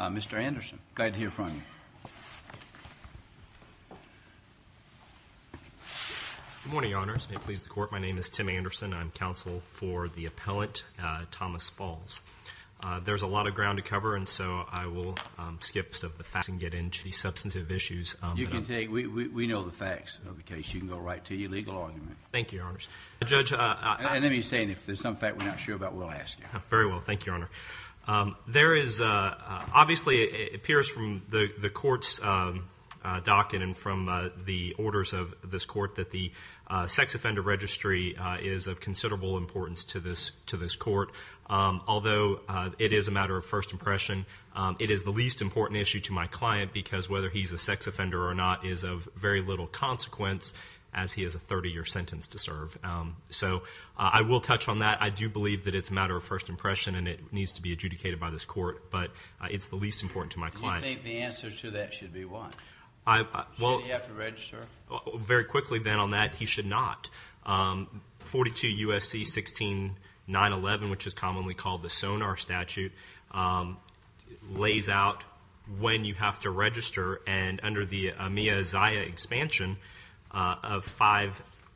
Mr. Anderson, glad to hear from you. Good morning, Your Honors. May it please the Court, my name is Tim Anderson. I'm counsel for the appellant Thomas Faulls. There's a lot of ground to cover and so I will skip some of the facts and get into the substantive issues. You can take, we know the facts of the case. You can go right to your legal argument. Thank you, Your Honors. And let me say, if there's some fact we're not sure about, we'll ask you. Very well, thank you, Your Honor. There is, obviously it appears from the Court's docket and from the orders of this Court, that the sex offender registry is of considerable importance to this Court. Although it is a matter of first impression, it is the least important issue to my client because whether he's a sex offender or not is of very little consequence as he has a 30-year sentence to serve. So I will touch on that. I do believe that it's a matter of first impression and it needs to be adjudicated by this Court, but it's the least important to my client. Do you think the answer to that should be what? Should he have to register? Very quickly then on that, he should not. 42 U.S.C. 16911, which is commonly called the Sonar Statute, lays out when you have to register and under the Amiya Isaiah expansion of 5Aii,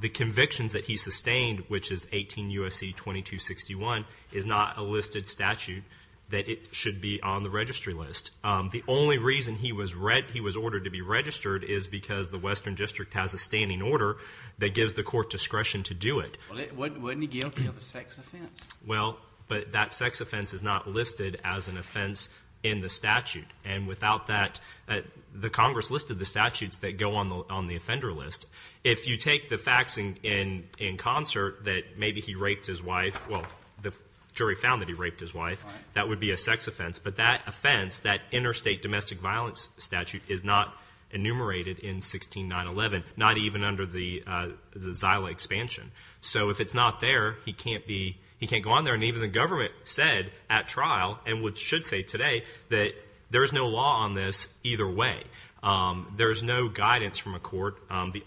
the convictions that he sustained, which is 18 U.S.C. 2261, is not a listed statute that it should be on the registry list. The only reason he was ordered to be registered is because the Western District has a standing order that gives the Court discretion to do it. Well, wasn't he guilty of a sex offense? Well, but that sex offense is not listed as an offense in the statute, and without that, the Congress listed the statutes that go on the offender list. If you take the facts in concert that maybe he raped his wife, well, the jury found that he raped his wife, that would be a sex offense, but that offense, that interstate domestic violence statute, is not enumerated in 16911, not even under the ZILA expansion. So if it's not there, he can't be, he can't go on there, and even the government said at trial, and should say today, that there is no law on this either way. There is no guidance from a court. The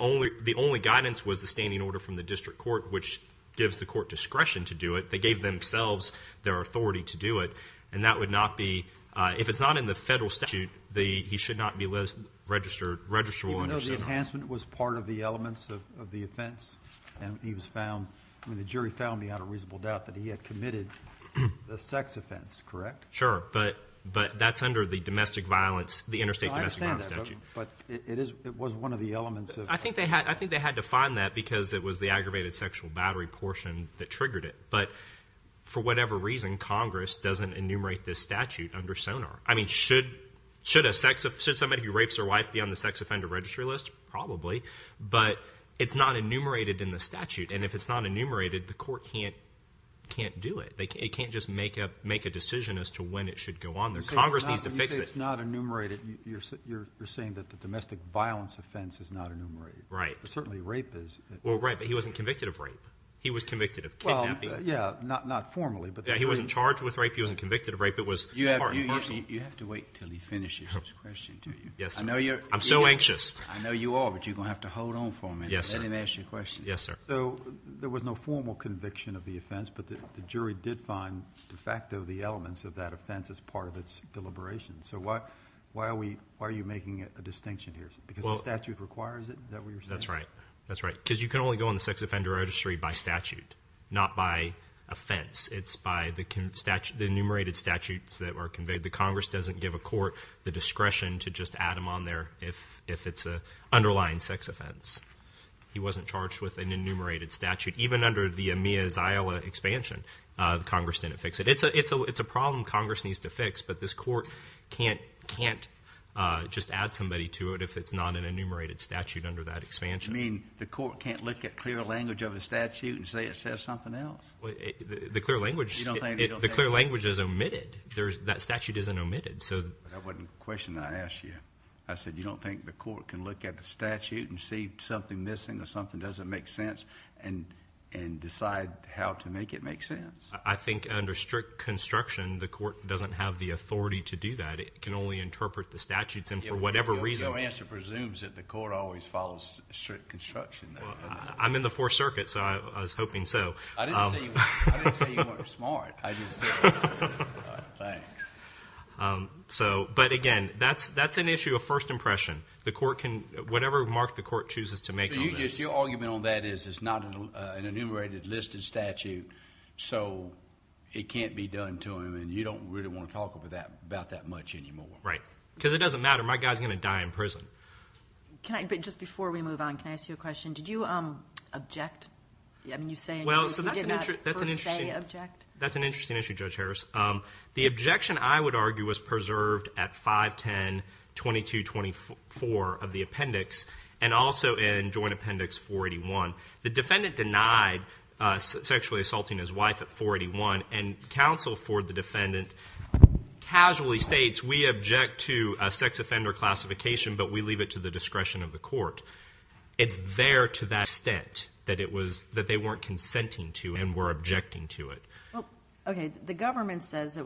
only guidance was the standing order from the District Court, which gives the Court discretion to do it. They gave themselves their authority to do it, and that would not be, if it's not in the federal statute, he should not be listed, registered, registrable. Even though the enhancement was part of the elements of the offense, and he was found, I mean, the jury found me out of reasonable doubt that he had committed a sex offense, correct? Sure, but that's under the domestic violence, the interstate domestic violence statute. I understand that, but it was one of the elements. I think they had to find that because it was the aggravated sexual battery portion that triggered it, but for whatever reason, Congress doesn't enumerate this statute under SONAR. I mean, should somebody who rapes their wife be on the sex offender registry list? Probably, but it's not enumerated in the statute, and if it's not enumerated, the court can't do it. They can't just make a decision as to when it should go on there. Congress needs to fix it. When you say it's not enumerated, you're saying that the domestic violence offense is not enumerated. Right. But certainly rape is. Well, right, but he wasn't convicted of rape. He was convicted of kidnapping. Well, yeah, not formally. Yeah, he wasn't charged with rape. He wasn't convicted of rape. It was part and parcel. You have to wait until he finishes his question to you. Yes, sir. I'm so anxious. I know you are, but you're going to have to hold on for a minute. Yes, sir. Let him ask your question. Yes, sir. So there was no formal conviction of the offense, but the jury did find de facto the elements of that offense as part of its deliberation. So why are you making a distinction here? Because the statute requires it? Is that what you're saying? That's right. That's right, because you can only go on the sex offender registry by statute, not by offense. It's by the enumerated statutes that were conveyed. The Congress doesn't give a court the discretion to just add them on there if it's an underlying sex offense. He wasn't charged with an enumerated statute. Even under the EMEA's Iowa expansion, Congress didn't fix it. It's a problem Congress needs to fix, but this court can't just add somebody to it if it's not an enumerated statute under that expansion. You mean the court can't look at clear language of the statute and say it says something else? The clear language is omitted. That statute isn't omitted. That wasn't the question I asked you. I said you don't think the court can look at the statute and see something missing or something doesn't make sense and decide how to make it make sense? I think under strict construction, the court doesn't have the authority to do that. It can only interpret the statutes, and for whatever reason. Your answer presumes that the court always follows strict construction. I'm in the Fourth Circuit, so I was hoping so. I didn't say you weren't smart. Thanks. But, again, that's an issue of first impression. Whatever remark the court chooses to make on this. Your argument on that is it's not an enumerated listed statute, so it can't be done to him, and you don't really want to talk about that much anymore. Right, because it doesn't matter. My guy is going to die in prison. Just before we move on, can I ask you a question? Did you object? I mean, you say you did not per se object. That's an interesting issue, Judge Harris. The objection, I would argue, was preserved at 510-2224 of the appendix and also in Joint Appendix 481. The defendant denied sexually assaulting his wife at 481, and counsel for the defendant casually states, we object to a sex offender classification, but we leave it to the discretion of the court. It's there to that extent that they weren't consenting to and were objecting to it. Okay. The government says that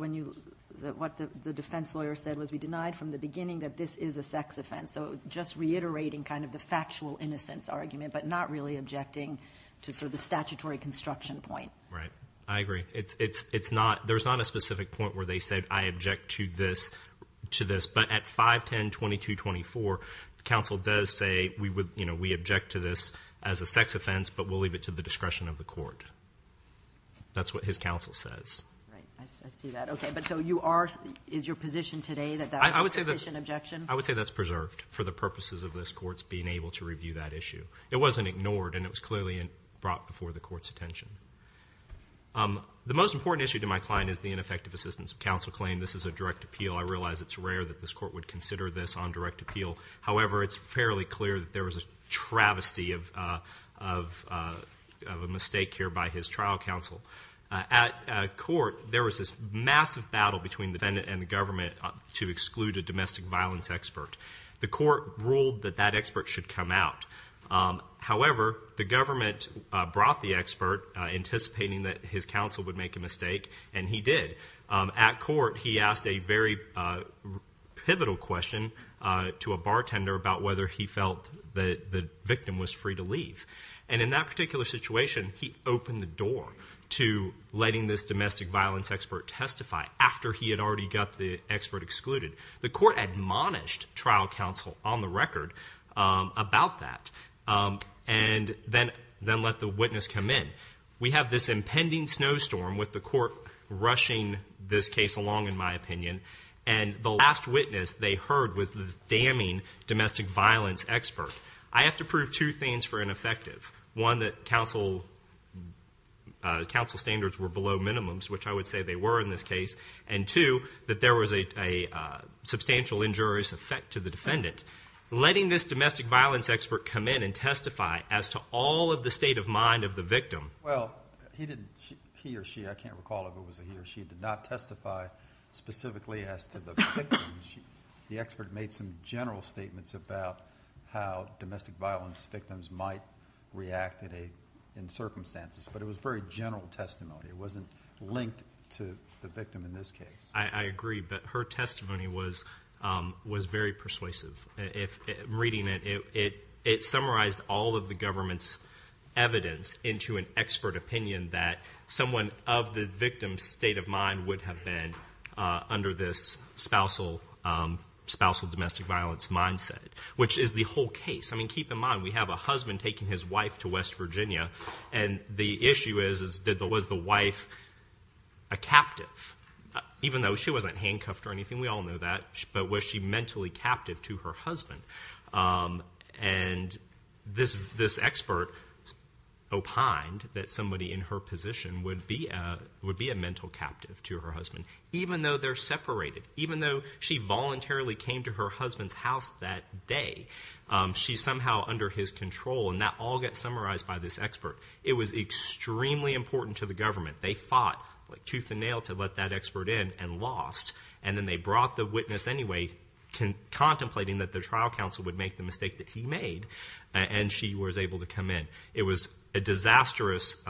what the defense lawyer said was we denied from the beginning that this is a sex offense, so just reiterating kind of the factual innocence argument but not really objecting to sort of the statutory construction point. Right. I agree. There's not a specific point where they said I object to this, but at 510-2224, counsel does say we object to this as a sex offense, but we'll leave it to the discretion of the court. That's what his counsel says. Right. I see that. Okay. But so you are, is your position today that that was a sufficient objection? I would say that's preserved for the purposes of this court's being able to review that issue. It wasn't ignored, and it was clearly brought before the court's attention. The most important issue to my client is the ineffective assistance of counsel claim. This is a direct appeal. I realize it's rare that this court would consider this on direct appeal. However, it's fairly clear that there was a travesty of a mistake here by his trial counsel. At court, there was this massive battle between the defendant and the government to exclude a domestic violence expert. The court ruled that that expert should come out. However, the government brought the expert, anticipating that his counsel would make a mistake, and he did. At court, he asked a very pivotal question to a bartender about whether he felt the victim was free to leave. And in that particular situation, he opened the door to letting this domestic violence expert testify after he had already got the expert excluded. The court admonished trial counsel on the record about that and then let the witness come in. We have this impending snowstorm with the court rushing this case along, in my opinion, and the last witness they heard was this damning domestic violence expert. I have to prove two things for ineffective. One, that counsel standards were below minimums, which I would say they were in this case, and two, that there was a substantial injurious effect to the defendant. Letting this domestic violence expert come in and testify as to all of the state of mind of the victim. Well, he or she, I can't recall if it was a he or she, did not testify specifically as to the victim. The expert made some general statements about how domestic violence victims might react in circumstances, but it was very general testimony. It wasn't linked to the victim in this case. I agree, but her testimony was very persuasive. Reading it, it summarized all of the government's evidence into an expert opinion that someone of the victim's state of mind would have been under this spousal domestic violence mindset, which is the whole case. I mean, keep in mind, we have a husband taking his wife to West Virginia, and the issue is, was the wife a captive? Even though she wasn't handcuffed or anything, we all know that, but was she mentally captive to her husband? And this expert opined that somebody in her position would be a mental captive to her husband, even though they're separated, even though she voluntarily came to her husband's house that day. She's somehow under his control, and that all gets summarized by this expert. It was extremely important to the government. They fought tooth and nail to let that expert in and lost, and then they brought the witness anyway contemplating that the trial counsel would make the mistake that he made, and she was able to come in. It was a disastrous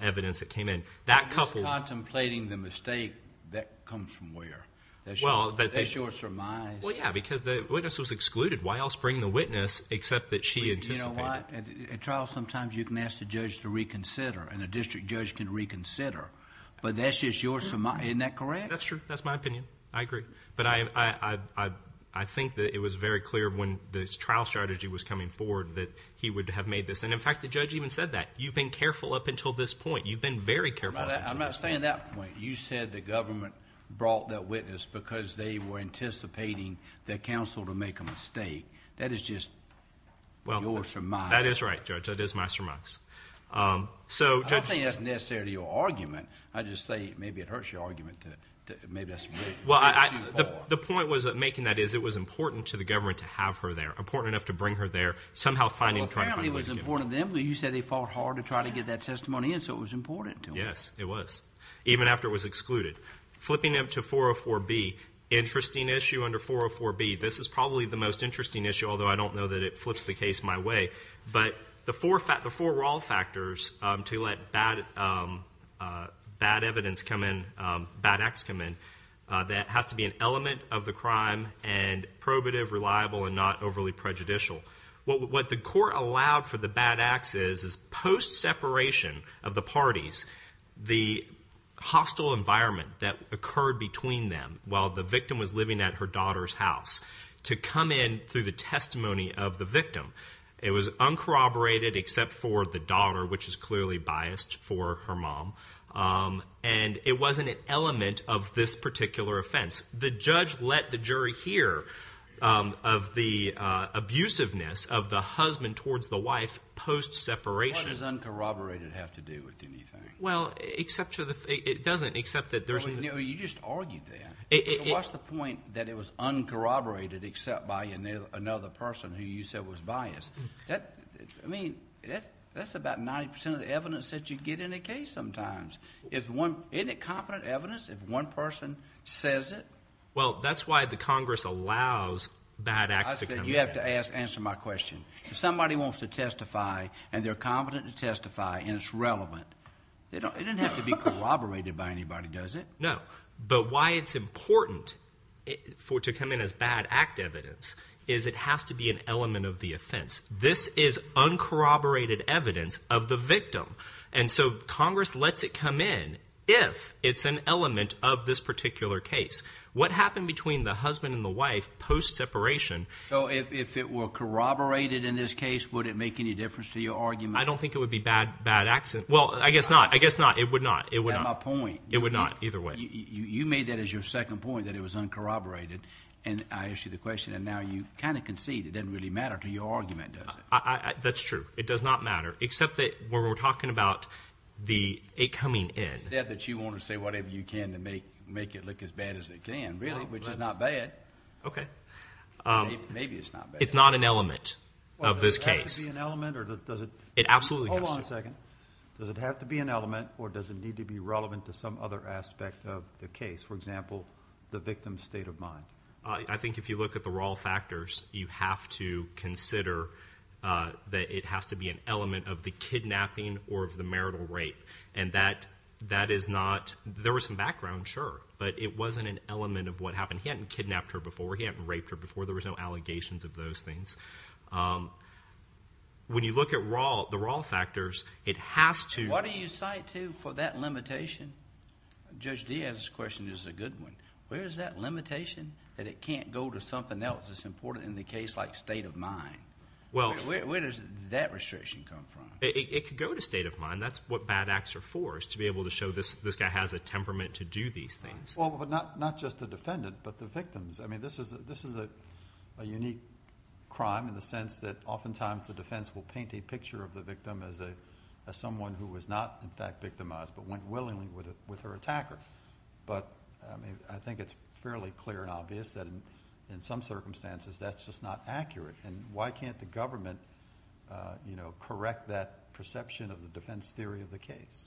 evidence that came in. That couple— Contemplating the mistake, that comes from where? That they sure surmised— Well, yeah, because the witness was excluded. Why else bring the witness except that she anticipated it? You know what? At trials sometimes you can ask the judge to reconsider, and a district judge can reconsider, but that's just your surmise. Isn't that correct? That's true. That's my opinion. I agree. But I think that it was very clear when the trial strategy was coming forward that he would have made this, and in fact the judge even said that. You've been careful up until this point. You've been very careful up until this point. I'm not saying that point. You said the government brought that witness because they were anticipating the counsel to make a mistake. That is just your surmise. That is right, Judge. That is my surmise. I don't think that's necessarily your argument. I just say maybe it hurts your argument that maybe that's too far. The point was making that is it was important to the government to have her there, important enough to bring her there, somehow finding and trying to find a way to get her. Well, apparently it was important to them. You said they fought hard to try to get that testimony in, so it was important to them. Yes, it was. Even after it was excluded. Flipping them to 404B, interesting issue under 404B. This is probably the most interesting issue, although I don't know that it flips the case my way. But the four raw factors to let bad evidence come in, bad acts come in, that has to be an element of the crime and probative, reliable, and not overly prejudicial. What the court allowed for the bad acts is post-separation of the parties, the hostile environment that occurred between them while the victim was living at her daughter's house, to come in through the testimony of the victim. It was uncorroborated except for the daughter, which is clearly biased for her mom, and it wasn't an element of this particular offense. The judge let the jury hear of the abusiveness of the husband towards the wife post-separation. What does uncorroborated have to do with anything? Well, it doesn't except that there's— You just argued that. So what's the point that it was uncorroborated except by another person who you said was biased? I mean, that's about 90% of the evidence that you get in a case sometimes. Isn't it confident evidence if one person says it? Well, that's why the Congress allows bad acts to come in. I said you have to answer my question. If somebody wants to testify and they're confident to testify and it's relevant, it doesn't have to be corroborated by anybody, does it? No, but why it's important to come in as bad act evidence is it has to be an element of the offense. This is uncorroborated evidence of the victim. And so Congress lets it come in if it's an element of this particular case. What happened between the husband and the wife post-separation— So if it were corroborated in this case, would it make any difference to your argument? I don't think it would be bad acts. Well, I guess not. I guess not. It would not. That's my point. It would not either way. You made that as your second point that it was uncorroborated, and I asked you the question, and now you kind of concede it doesn't really matter to your argument, does it? That's true. It doesn't matter. It does not matter, except that when we're talking about it coming in. You said that you want to say whatever you can to make it look as bad as it can, really, which is not bad. Okay. Maybe it's not bad. It's not an element of this case. Well, does it have to be an element, or does it— It absolutely has to. Hold on a second. Does it have to be an element, or does it need to be relevant to some other aspect of the case, for example, the victim's state of mind? I think if you look at the raw factors, you have to consider that it has to be an element of the kidnapping or of the marital rape, and that is not—there was some background, sure, but it wasn't an element of what happened. He hadn't kidnapped her before. He hadn't raped her before. There was no allegations of those things. When you look at the raw factors, it has to— What do you cite to for that limitation? Judge Diaz's question is a good one. Where is that limitation that it can't go to something else that's important in the case, like state of mind? Where does that restriction come from? It could go to state of mind. That's what bad acts are for, is to be able to show this guy has a temperament to do these things. Well, but not just the defendant, but the victims. This is a unique crime in the sense that oftentimes the defense will paint a picture of the victim as someone who was not, in fact, victimized, but went willingly with her attacker. But, I mean, I think it's fairly clear and obvious that in some circumstances that's just not accurate, and why can't the government correct that perception of the defense theory of the case?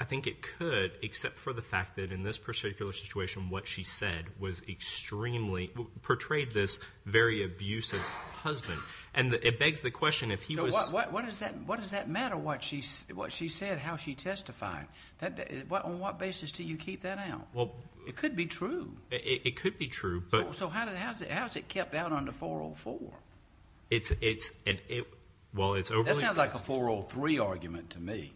I think it could, except for the fact that in this particular situation what she said was extremely—portrayed this very abusive husband. And it begs the question, if he was— What does that matter, what she said, how she testified? On what basis do you keep that out? It could be true. It could be true, but— So how is it kept out under 404? It's an—well, it's overly— That sounds like a 403 argument to me.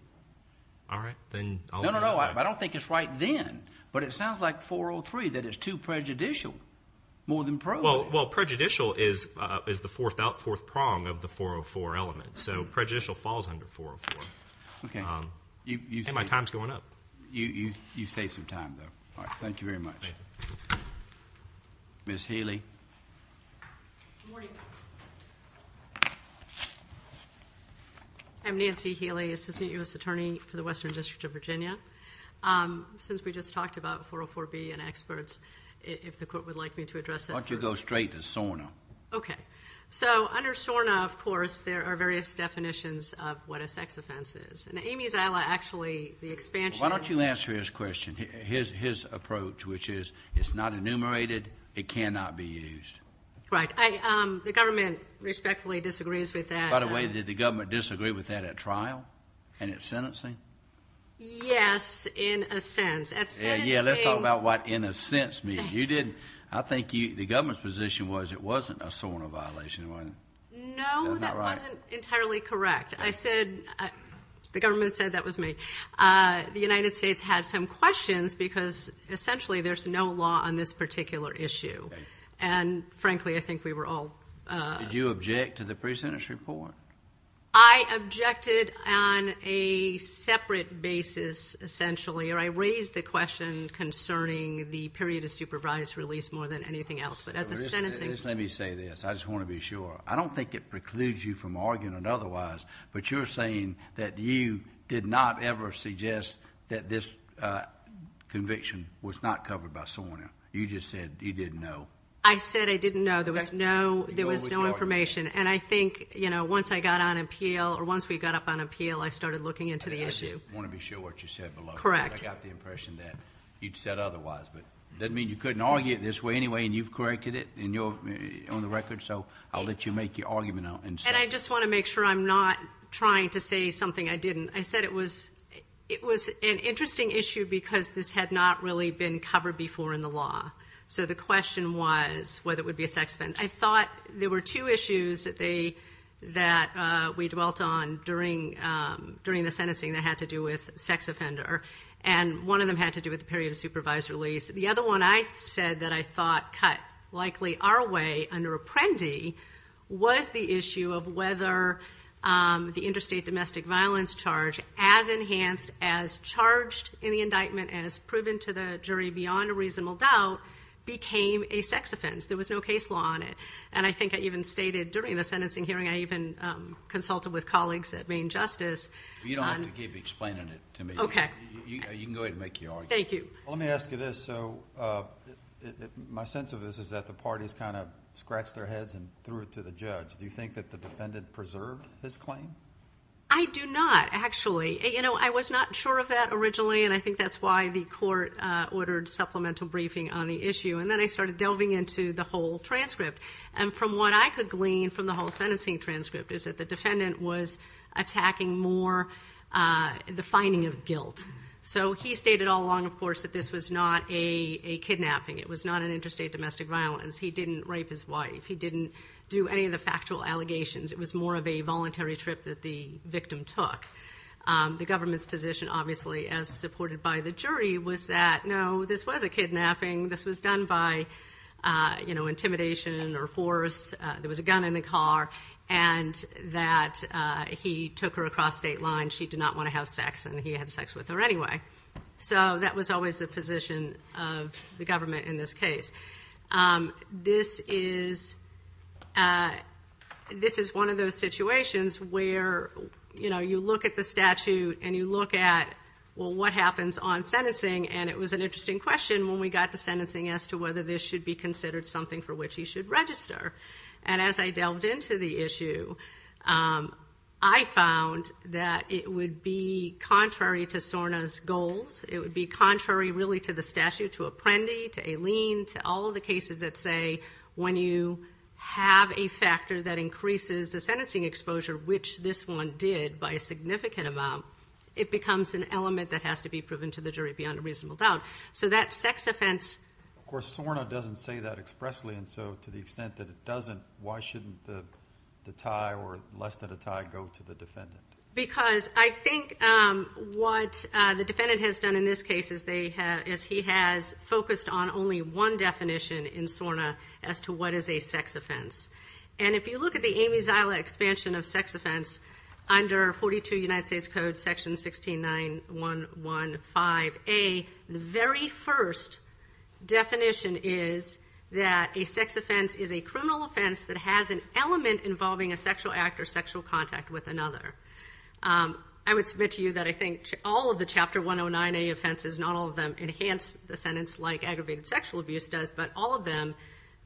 All right, then I'll— No, no, no, I don't think it's right then, but it sounds like 403, that it's too prejudicial, more than probable. Well, prejudicial is the fourth prong of the 404 element, so prejudicial falls under 404. Okay. Hey, my time's going up. You saved some time, though. All right, thank you very much. Thank you. Ms. Healy. Good morning. I'm Nancy Healy, Assistant U.S. Attorney for the Western District of Virginia. Since we just talked about 404B and experts, if the court would like me to address that first. Why don't you go straight to SORNA? Okay. So under SORNA, of course, there are various definitions of what a sex offense is. And Amy Zila actually, the expansion— Why don't you answer his question, his approach, which is it's not enumerated, it cannot be used. Right. The government respectfully disagrees with that. By the way, did the government disagree with that at trial and at sentencing? Yes, in a sense. At sentencing— Yeah, let's talk about what in a sense means. I think the government's position was it wasn't a SORNA violation, wasn't it? No, that wasn't entirely correct. I said—the government said that was me. The United States had some questions because essentially there's no law on this particular issue. And frankly, I think we were all— Did you object to the pre-sentence report? I objected on a separate basis, essentially. Or I raised the question concerning the period of supervised release more than anything else. But at the sentencing— Let me say this. I just want to be sure. I don't think it precludes you from arguing otherwise. But you're saying that you did not ever suggest that this conviction was not covered by SORNA. You just said you didn't know. I said I didn't know. There was no information. And I think once I got on appeal, or once we got up on appeal, I started looking into the issue. I just want to be sure what you said below. Correct. I got the impression that you'd said otherwise. But that doesn't mean you couldn't argue it this way anyway, and you've corrected it on the record. So I'll let you make your argument. And I just want to make sure I'm not trying to say something I didn't. I said it was an interesting issue because this had not really been covered before in the law. So the question was whether it would be a sex offender. I thought there were two issues that we dwelt on during the sentencing that had to do with sex offender. And one of them had to do with the period of supervised release. The other one I said that I thought cut likely our way under Apprendi was the issue of whether the interstate domestic violence charge, as enhanced, as charged in the indictment, as proven to the jury beyond a reasonable doubt, became a sex offense. There was no case law on it. And I think I even stated during the sentencing hearing I even consulted with colleagues at Maine Justice. You don't have to keep explaining it to me. Okay. You can go ahead and make your argument. Thank you. Let me ask you this. So my sense of this is that the parties kind of scratched their heads and threw it to the judge. Do you think that the defendant preserved his claim? I do not, actually. I was not sure of that originally, and I think that's why the court ordered supplemental briefing on the issue. And then I started delving into the whole transcript. And from what I could glean from the whole sentencing transcript is that the defendant was attacking more the finding of guilt. So he stated all along, of course, that this was not a kidnapping. It was not an interstate domestic violence. He didn't rape his wife. He didn't do any of the factual allegations. It was more of a voluntary trip that the victim took. The government's position, obviously, as supported by the jury, was that, no, this was a kidnapping. This was done by, you know, intimidation or force. There was a gun in the car, and that he took her across state lines. She did not want to have sex, and he had sex with her anyway. So that was always the position of the government in this case. This is one of those situations where, you know, you look at the statute and you look at, well, what happens on sentencing? And it was an interesting question when we got to sentencing as to whether this should be considered something for which he should register. And as I delved into the issue, I found that it would be contrary to SORNA's goals. It would be contrary, really, to the statute, to Apprendi, to Aileen, to all of the cases that say when you have a factor that increases the sentencing exposure, which this one did by a significant amount, it becomes an element that has to be proven to the jury beyond a reasonable doubt. So that sex offense— Of course, SORNA doesn't say that expressly, and so to the extent that it doesn't, why shouldn't the tie or less than a tie go to the defendant? Because I think what the defendant has done in this case is he has focused on only one definition in SORNA as to what is a sex offense. And if you look at the Amy Zila expansion of sex offense under 42 United States Code Section 169.115a, the very first definition is that a sex offense is a criminal offense that has an element involving a sexual act or sexual contact with another. I would submit to you that I think all of the Chapter 109a offenses, not all of them enhance the sentence like aggravated sexual abuse does, but all of them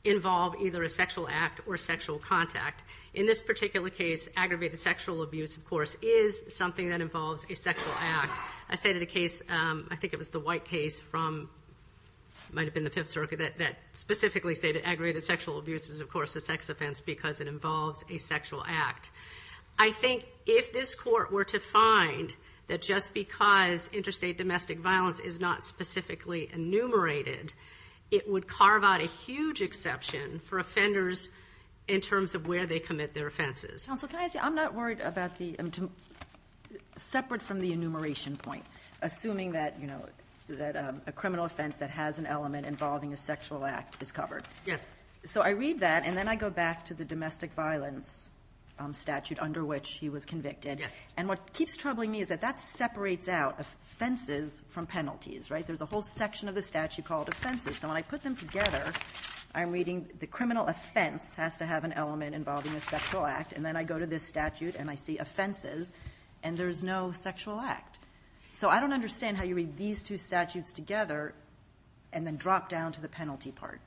involve either a sexual act or sexual contact. In this particular case, aggravated sexual abuse, of course, is something that involves a sexual act. I stated a case—I think it was the White case from—it might have been the Fifth Circuit that specifically stated aggravated sexual abuse is, of course, a sex offense because it involves a sexual act. I think if this court were to find that just because interstate domestic violence is not specifically enumerated, it would carve out a huge exception for offenders in terms of where they commit their offenses. Counsel, can I ask you—I'm not worried about the—separate from the enumeration point, assuming that a criminal offense that has an element involving a sexual act is covered. Yes. So I read that, and then I go back to the domestic violence statute under which he was convicted. Yes. And what keeps troubling me is that that separates out offenses from penalties, right? There's a whole section of the statute called offenses. So when I put them together, I'm reading the criminal offense has to have an element involving a sexual act, and then I go to this statute and I see offenses, and there's no sexual act. So I don't understand how you read these two statutes together and then drop down to the penalty part.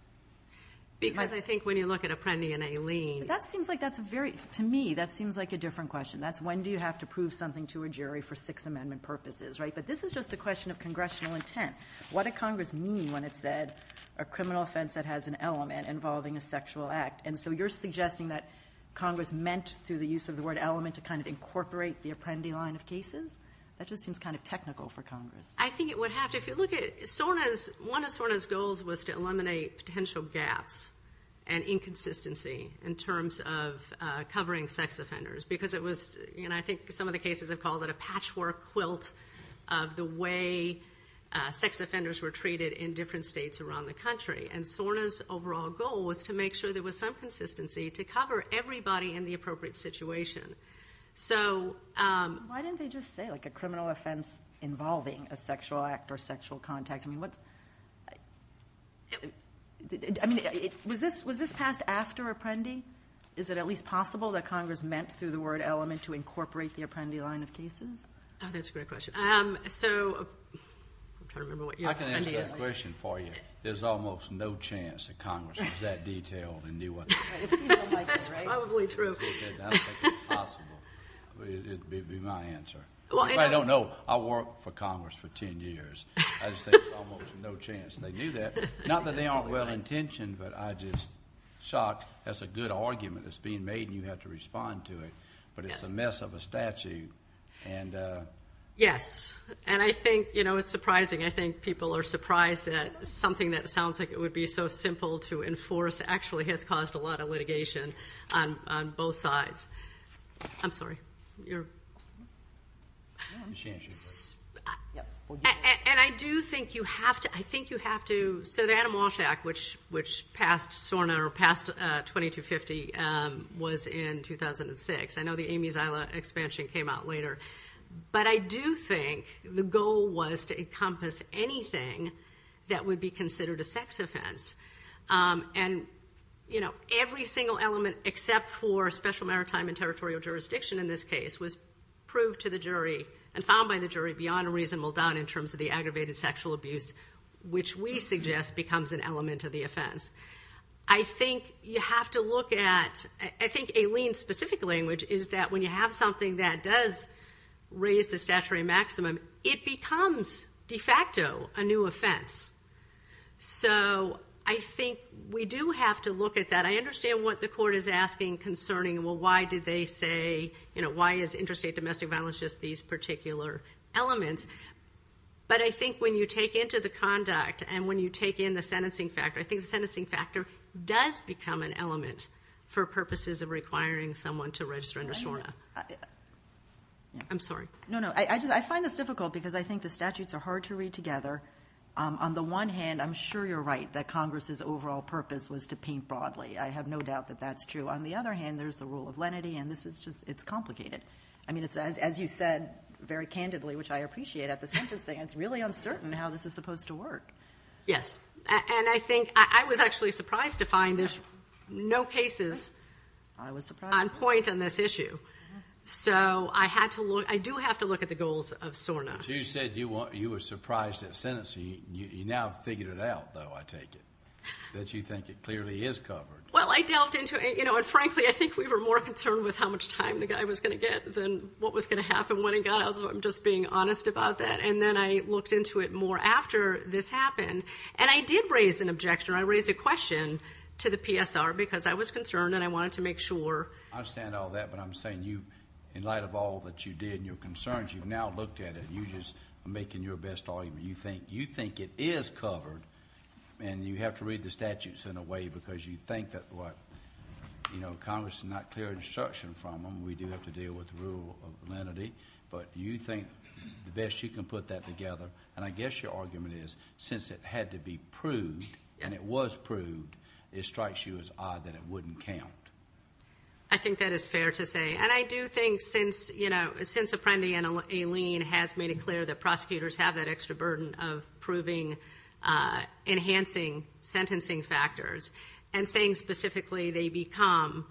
Because I think when you look at Apprendi and Aileen— That seems like that's a very—to me, that seems like a different question. That's when do you have to prove something to a jury for Sixth Amendment purposes, right? But this is just a question of congressional intent. What did Congress mean when it said a criminal offense that has an element involving a sexual act? And so you're suggesting that Congress meant, through the use of the word element, to kind of incorporate the Apprendi line of cases? That just seems kind of technical for Congress. I think it would have to. If you look at SORNA's—one of SORNA's goals was to eliminate potential gaps and inconsistency in terms of covering sex offenders because it was— sex offenders were treated in different states around the country. And SORNA's overall goal was to make sure there was some consistency to cover everybody in the appropriate situation. So— Why didn't they just say, like, a criminal offense involving a sexual act or sexual contact? I mean, what's—I mean, was this passed after Apprendi? Is it at least possible that Congress meant, through the word element, to incorporate the Apprendi line of cases? Oh, that's a great question. So—I'm trying to remember what your— I can answer that question for you. There's almost no chance that Congress was that detailed and knew what— That's probably true. That's possible. It would be my answer. I don't know. I worked for Congress for 10 years. I just think there's almost no chance they knew that. Not that they aren't well-intentioned, but I just—shocked. That's a good argument that's being made, and you have to respond to it. But it's a mess of a statute. Yes. And I think, you know, it's surprising. I think people are surprised that something that sounds like it would be so simple to enforce actually has caused a lot of litigation on both sides. I'm sorry. And I do think you have to—I think you have to— So the Adam Walsh Act, which passed SORNA, or passed 2250, was in 2006. I know the Amy Zila expansion came out later. But I do think the goal was to encompass anything that would be considered a sex offense. And, you know, every single element except for special maritime and territorial jurisdiction in this case was proved to the jury and found by the jury beyond a reasonable doubt in terms of the aggravated sexual abuse, which we suggest becomes an element of the offense. I think you have to look at—I think a lien-specific language is that when you have something that does raise the statutory maximum, it becomes de facto a new offense. So I think we do have to look at that. I understand what the court is asking concerning, well, why did they say, you know, why is interstate domestic violence just these particular elements? But I think when you take into the conduct and when you take in the sentencing factor, I think the sentencing factor does become an element for purposes of requiring someone to register under SORNA. I'm sorry. No, no. I find this difficult because I think the statutes are hard to read together. On the one hand, I'm sure you're right that Congress's overall purpose was to paint broadly. I have no doubt that that's true. On the other hand, there's the rule of lenity, and this is just—it's complicated. I mean, as you said very candidly, which I appreciate, at the sentencing, it's really uncertain how this is supposed to work. Yes. And I think—I was actually surprised to find there's no cases on point on this issue. So I had to look—I do have to look at the goals of SORNA. But you said you were surprised at sentencing. You now figured it out, though, I take it, that you think it clearly is covered. Well, I delved into it. You know, and frankly, I think we were more concerned with how much time the guy was going to get than what was going to happen when he got out. So I'm just being honest about that. And then I looked into it more after this happened. And I did raise an objection. I raised a question to the PSR because I was concerned and I wanted to make sure. I understand all that. But I'm saying you, in light of all that you did and your concerns, you've now looked at it. You just are making your best argument. You think it is covered, and you have to read the statutes in a way because you think that what— you know, Congress did not clear instruction from them. We do have to deal with the rule of lenity. But you think the best you can put that together, and I guess your argument is since it had to be proved and it was proved, it strikes you as odd that it wouldn't count. I think that is fair to say. And I do think since Apprendi and Aileen has made it clear that prosecutors have that extra burden of proving, enhancing sentencing factors, and saying specifically they become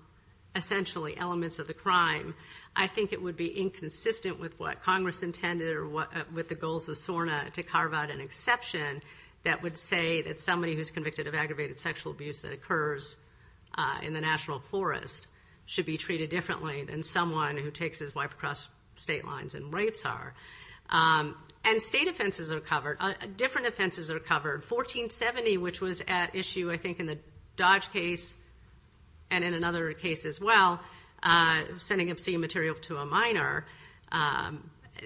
essentially elements of the crime, I think it would be inconsistent with what Congress intended or with the goals of SORNA to carve out an exception that would say that somebody who is convicted of aggravated sexual abuse that occurs in the national forest should be treated differently than someone who takes his wife across state lines and rapes her. And state offenses are covered. Different offenses are covered. 1470, which was at issue I think in the Dodge case and in another case as well, sending obscene material to a minor,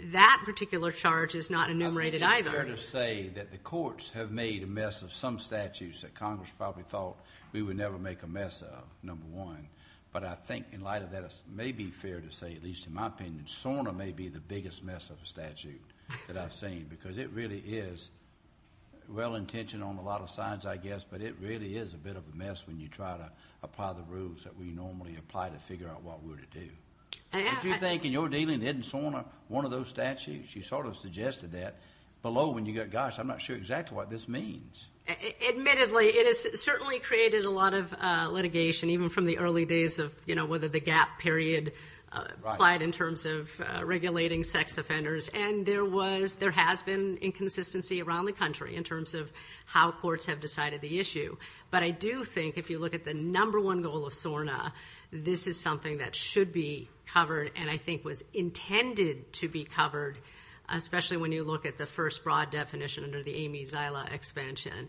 that particular charge is not enumerated either. I think it's fair to say that the courts have made a mess of some statutes that Congress probably thought we would never make a mess of, number one. But I think in light of that, it may be fair to say, at least in my opinion, SORNA may be the biggest mess of a statute that I've seen because it really is well-intentioned on a lot of sides, I guess, but it really is a bit of a mess when you try to apply the rules that we normally apply to figure out what we're to do. Don't you think in your dealing with Ed and SORNA, one of those statutes, you sort of suggested that below when you go, gosh, I'm not sure exactly what this means. Admittedly, it has certainly created a lot of litigation, even from the early days of, you know, whether the gap period applied in terms of regulating sex offenders. And there has been inconsistency around the country in terms of how courts have decided the issue. But I do think if you look at the number one goal of SORNA, this is something that should be covered and I think was intended to be covered, especially when you look at the first broad definition under the Amy Zila expansion.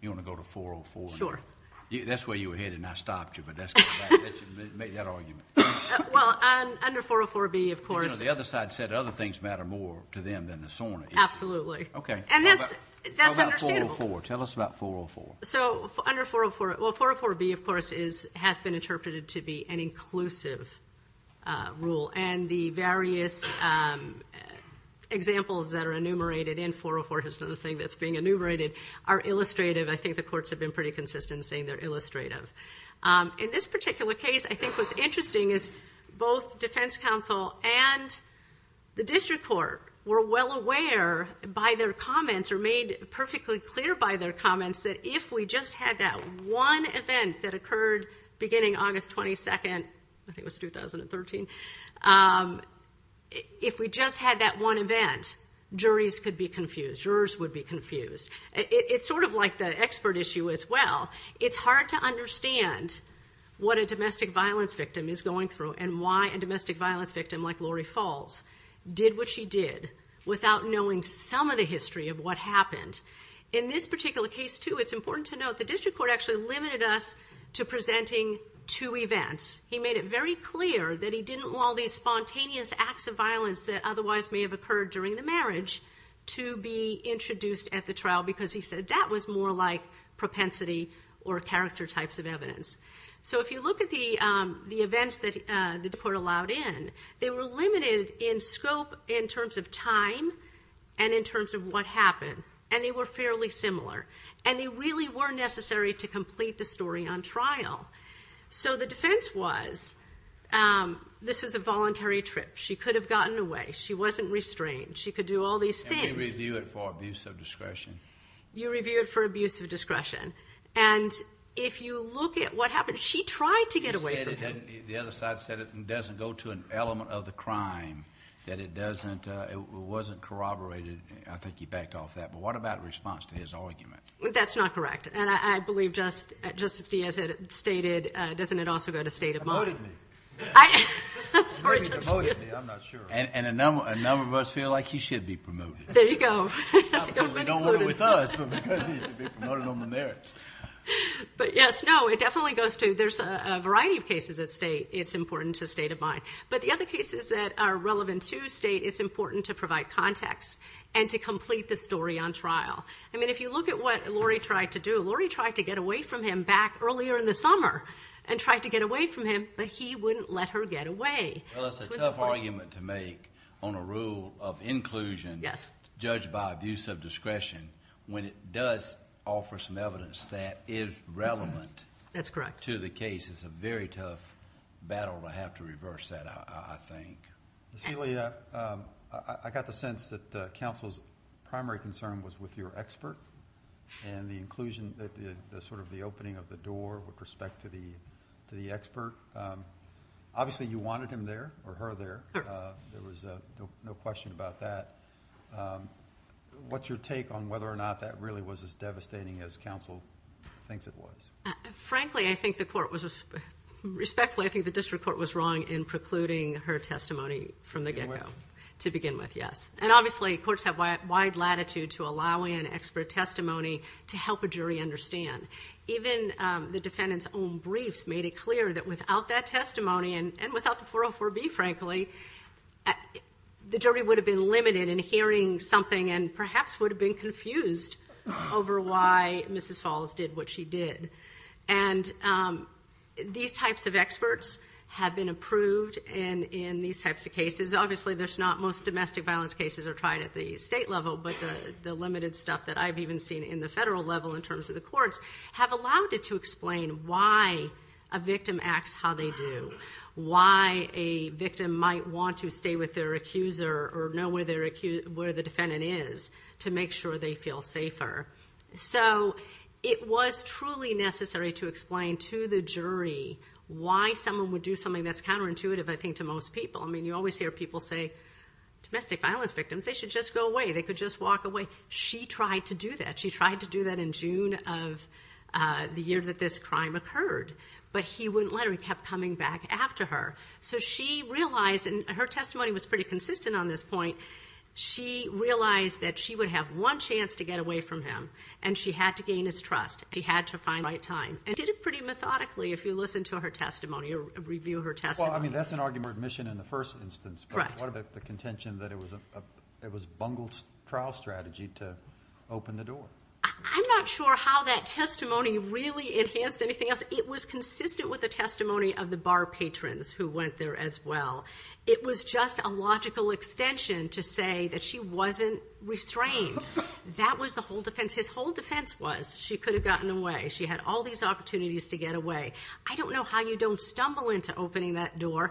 You want to go to 404? Sure. That's where you were headed and I stopped you, but make that argument. Well, under 404B, of course. The other side said other things matter more to them than the SORNA issue. Absolutely. Okay. And that's understandable. Tell us about 404. So under 404, well, 404B, of course, has been interpreted to be an inclusive rule and the various examples that are enumerated in 404, here's another thing that's being enumerated, are illustrative. I think the courts have been pretty consistent in saying they're illustrative. In this particular case, I think what's interesting is both defense counsel and the district court were well aware, by their comments or made perfectly clear by their comments, that if we just had that one event that occurred beginning August 22nd, I think it was 2013, if we just had that one event, juries could be confused, jurors would be confused. It's sort of like the expert issue as well. It's hard to understand what a domestic violence victim is going through and why a domestic violence victim like Lori Falls did what she did without knowing some of the history of what happened. In this particular case, too, it's important to note the district court actually limited us to presenting two events. He made it very clear that he didn't want all these spontaneous acts of violence that otherwise may have occurred during the marriage to be introduced at the trial because he said that was more like propensity or character types of evidence. So if you look at the events that the court allowed in, they were limited in scope in terms of time and in terms of what happened. And they were fairly similar. And they really were necessary to complete the story on trial. So the defense was this was a voluntary trip. She could have gotten away. She wasn't restrained. She could do all these things. And we review it for abuse of discretion. You review it for abuse of discretion. And if you look at what happened, she tried to get away from him. The other side said it doesn't go to an element of the crime, that it wasn't corroborated. I think you backed off that. But what about response to his argument? That's not correct. And I believe Justice Diaz had stated, doesn't it also go to state of mind? Promoted me. I'm sorry, Justice Diaz. Maybe promoted me. I'm not sure. And a number of us feel like he should be promoted. There you go. Not because we don't want him with us, but because he should be promoted on the merits. But, yes, no, it definitely goes to there's a variety of cases that state it's important to state of mind. But the other cases that are relevant to state it's important to provide context and to complete the story on trial. I mean, if you look at what Lori tried to do, Lori tried to get away from him back earlier in the summer and tried to get away from him. But he wouldn't let her get away. Well, it's a tough argument to make on a rule of inclusion judged by abuse of discretion when it does offer some evidence that is relevant to the case. That's correct. It's a very tough battle to have to reverse that, I think. Ms. Healy, I got the sense that counsel's primary concern was with your expert and the inclusion, sort of the opening of the door with respect to the expert. Obviously, you wanted him there or her there. There was no question about that. What's your take on whether or not that really was as devastating as counsel thinks it was? Frankly, I think the court was respectfully, I think the district court was wrong in precluding her testimony from the get-go to begin with, yes. And obviously, courts have wide latitude to allow in expert testimony to help a jury understand. Even the defendant's own briefs made it clear that without that testimony and without the 404B, frankly, the jury would have been limited in hearing something and perhaps would have been confused over why Mrs. Falls did what she did. And these types of experts have been approved in these types of cases. Obviously, most domestic violence cases are tried at the state level, but the limited stuff that I've even seen in the federal level in terms of the courts have allowed it to explain why a victim acts how they do, why a victim might want to stay with their accuser or know where the defendant is to make sure they feel safer. So it was truly necessary to explain to the jury why someone would do something that's counterintuitive, I think, to most people. I mean, you always hear people say, domestic violence victims, they should just go away. They could just walk away. She tried to do that. She tried to do that in June of the year that this crime occurred. But he wouldn't let her. He kept coming back after her. So she realized, and her testimony was pretty consistent on this point, she realized that she would have one chance to get away from him, and she had to gain his trust. She had to find the right time and did it pretty methodically, if you listen to her testimony or review her testimony. Well, I mean, that's an argument of admission in the first instance. Correct. But what about the contention that it was a bungled trial strategy to open the door? I'm not sure how that testimony really enhanced anything else. It was consistent with the testimony of the bar patrons who went there as well. It was just a logical extension to say that she wasn't restrained. That was the whole defense. His whole defense was she could have gotten away. She had all these opportunities to get away. I don't know how you don't stumble into opening that door.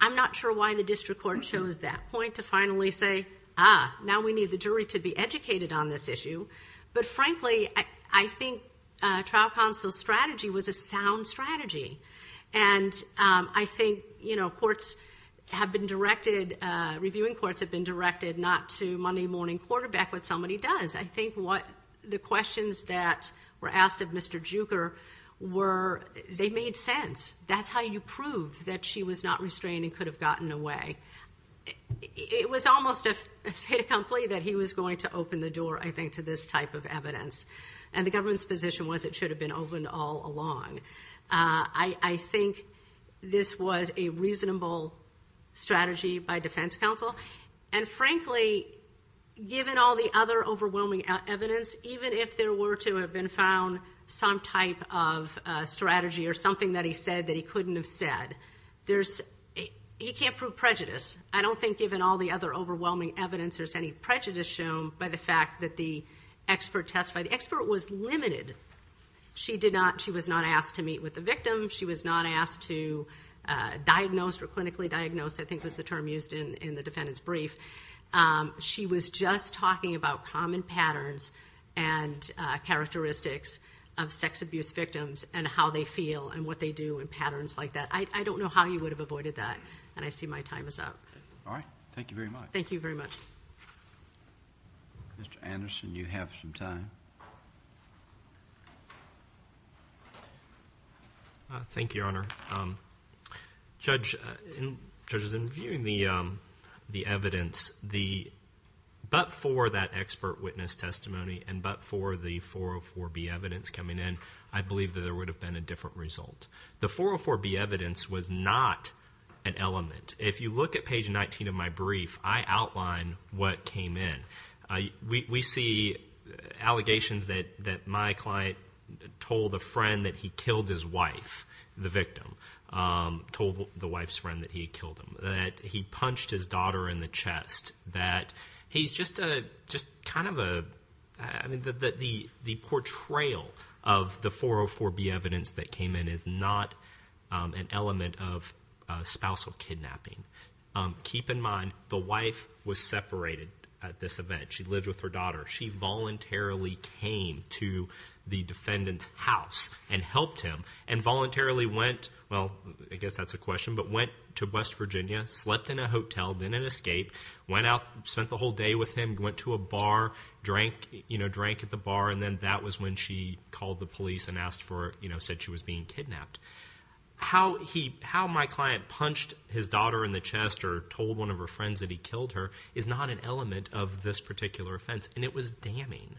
I'm not sure why the district court chose that point to finally say, ah, now we need the jury to be educated on this issue. But frankly, I think trial counsel's strategy was a sound strategy. And I think, you know, courts have been directed, reviewing courts have been directed not to Monday morning quarterback what somebody does. I think what the questions that were asked of Mr. Juker were they made sense. That's how you prove that she was not restrained and could have gotten away. It was almost a fait accompli that he was going to open the door, I think, to this type of evidence. And the government's position was it should have been open all along. I think this was a reasonable strategy by defense counsel. And frankly, given all the other overwhelming evidence, even if there were to have been found some type of strategy or something that he said that he couldn't have said, he can't prove prejudice. I don't think given all the other overwhelming evidence there's any prejudice shown by the fact that the expert testified. The expert was limited. She was not asked to meet with the victim. She was not asked to diagnose or clinically diagnose, I think was the term used in the defendant's brief. She was just talking about common patterns and characteristics of sex abuse victims and how they feel and what they do and patterns like that. I don't know how you would have avoided that, and I see my time is up. All right. Thank you very much. Thank you very much. Mr. Anderson, you have some time. Thank you, Your Honor. Judge, in viewing the evidence, but for that expert witness testimony and but for the 404B evidence coming in, I believe that there would have been a different result. The 404B evidence was not an element. If you look at page 19 of my brief, I outline what came in. We see allegations that my client told a friend that he killed his wife, the victim, told the wife's friend that he had killed him, that he punched his daughter in the chest, that he's just kind of a, I mean, the portrayal of the 404B evidence that came in is not an element of spousal kidnapping. Keep in mind, the wife was separated at this event. She voluntarily came to the defendant's house and helped him and voluntarily went, well, I guess that's a question, but went to West Virginia, slept in a hotel, didn't escape, went out, spent the whole day with him, went to a bar, drank, you know, drank at the bar, and then that was when she called the police and asked for, you know, said she was being kidnapped. How my client punched his daughter in the chest or told one of her friends that he killed her is not an element of this particular offense, and it was damning.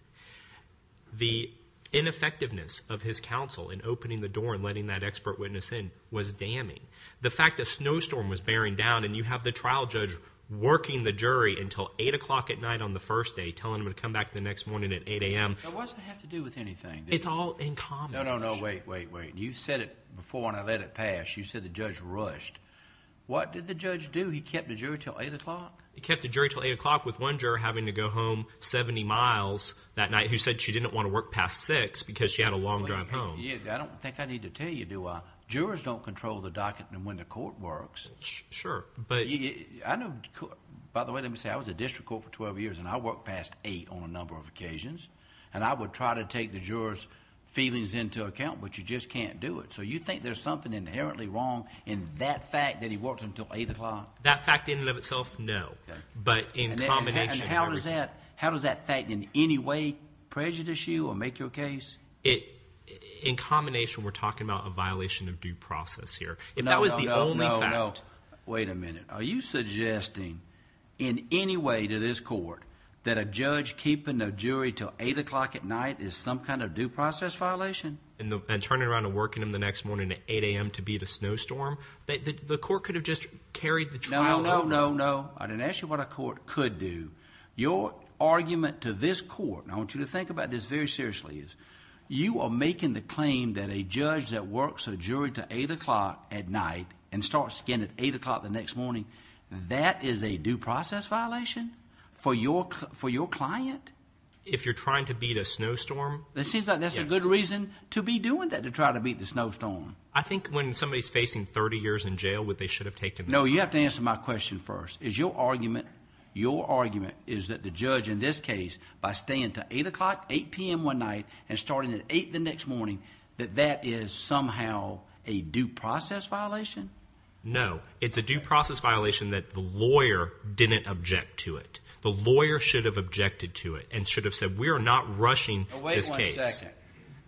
The ineffectiveness of his counsel in opening the door and letting that expert witness in was damning. The fact that a snowstorm was bearing down and you have the trial judge working the jury until 8 o'clock at night on the first day, telling him to come back the next morning at 8 a.m. It doesn't have to do with anything. It's all in common. No, no, no, wait, wait, wait. You said it before and I let it pass. You said the judge rushed. What did the judge do? He kept the jury until 8 o'clock? He kept the jury until 8 o'clock with one juror having to go home 70 miles that night who said she didn't want to work past 6 because she had a long drive home. I don't think I need to tell you, do I? Jurors don't control the docket and when the court works. Sure, but… By the way, let me say I was a district court for 12 years and I worked past 8 on a number of occasions. And I would try to take the jurors' feelings into account, but you just can't do it. So you think there's something inherently wrong in that fact that he worked until 8 o'clock? That fact in and of itself, no. But in combination… And how does that fact in any way prejudice you or make your case? In combination, we're talking about a violation of due process here. If that was the only fact… No, no, no, wait a minute. Are you suggesting in any way to this court that a judge keeping a jury until 8 o'clock at night is some kind of due process violation? And turning around and working them the next morning at 8 a.m. to beat a snowstorm? The court could have just carried the trial… No, no, no, no. I didn't ask you what a court could do. Your argument to this court, and I want you to think about this very seriously, is you are making the claim that a judge that works a jury until 8 o'clock at night and starts again at 8 o'clock the next morning, that is a due process violation for your client? If you're trying to beat a snowstorm, yes. It seems like that's a good reason to be doing that, to try to beat the snowstorm. I think when somebody's facing 30 years in jail, they should have taken that. No, you have to answer my question first. Is your argument, your argument, is that the judge in this case, by staying until 8 o'clock, 8 p.m. one night, and starting at 8 the next morning, that that is somehow a due process violation? No. It's a due process violation that the lawyer didn't object to it. The lawyer should have objected to it and should have said, we are not rushing this case. Wait one second.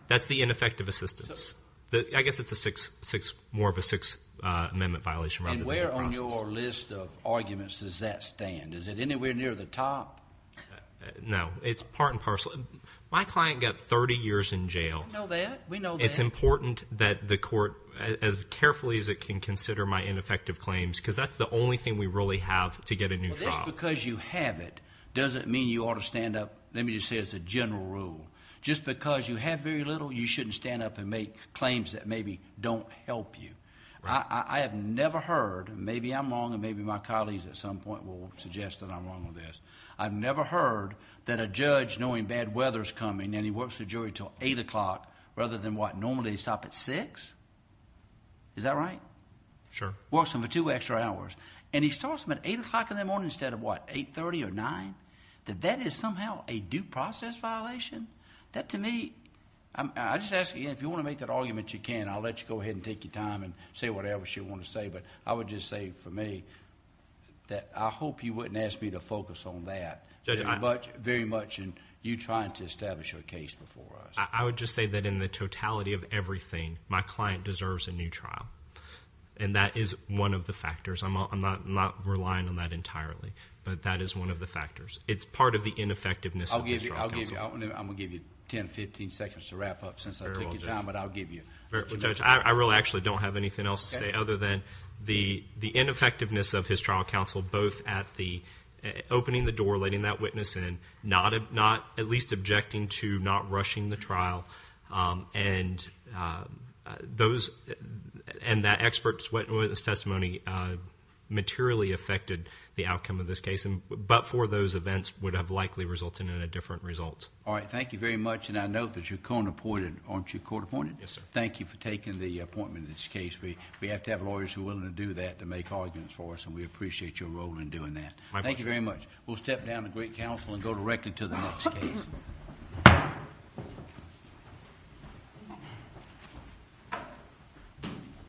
That's the ineffective assistance. I guess it's more of a Sixth Amendment violation rather than a due process. And where on your list of arguments does that stand? Is it anywhere near the top? No. It's part and parcel. My client got 30 years in jail. We know that. It's important that the court, as carefully as it can consider my ineffective claims, because that's the only thing we really have to get a new trial. Just because you have it doesn't mean you ought to stand up. Let me just say it's a general rule. Just because you have very little, you shouldn't stand up and make claims that maybe don't help you. I have never heard, maybe I'm wrong and maybe my colleagues at some point will suggest that I'm wrong on this. I've never heard that a judge, knowing bad weather's coming, and he works with a jury until 8 o'clock rather than what, normally stop at 6? Is that right? Sure. Works them for two extra hours. And he starts them at 8 o'clock in the morning instead of what, 8.30 or 9? That that is somehow a due process violation? That to me... I just ask again, if you want to make that argument, you can. I'll let you go ahead and take your time and say whatever else you want to say. But I would just say for me that I hope you wouldn't ask me to focus on that very much in you trying to establish your case before us. I would just say that in the totality of everything, my client deserves a new trial. And that is one of the factors. I'm not relying on that entirely, but that is one of the factors. It's part of the ineffectiveness of his trial counsel. I'm going to give you 10, 15 seconds to wrap up since I took your time, but I'll give you... Judge, I really actually don't have anything else to say other than the ineffectiveness of his trial counsel, both at the opening the door, letting that witness in, not at least objecting to not rushing the trial, and that expert witness testimony materially affected the outcome of this case, but for those events would have likely resulted in a different result. All right. Thank you very much. And I note that you're court appointed, aren't you? Yes, sir. Thank you for taking the appointment in this case. We have to have lawyers who are willing to do that to make arguments for us, and we appreciate your role in doing that. My pleasure. Thank you very much. We'll step down to great counsel and go directly to the next case. Thank you.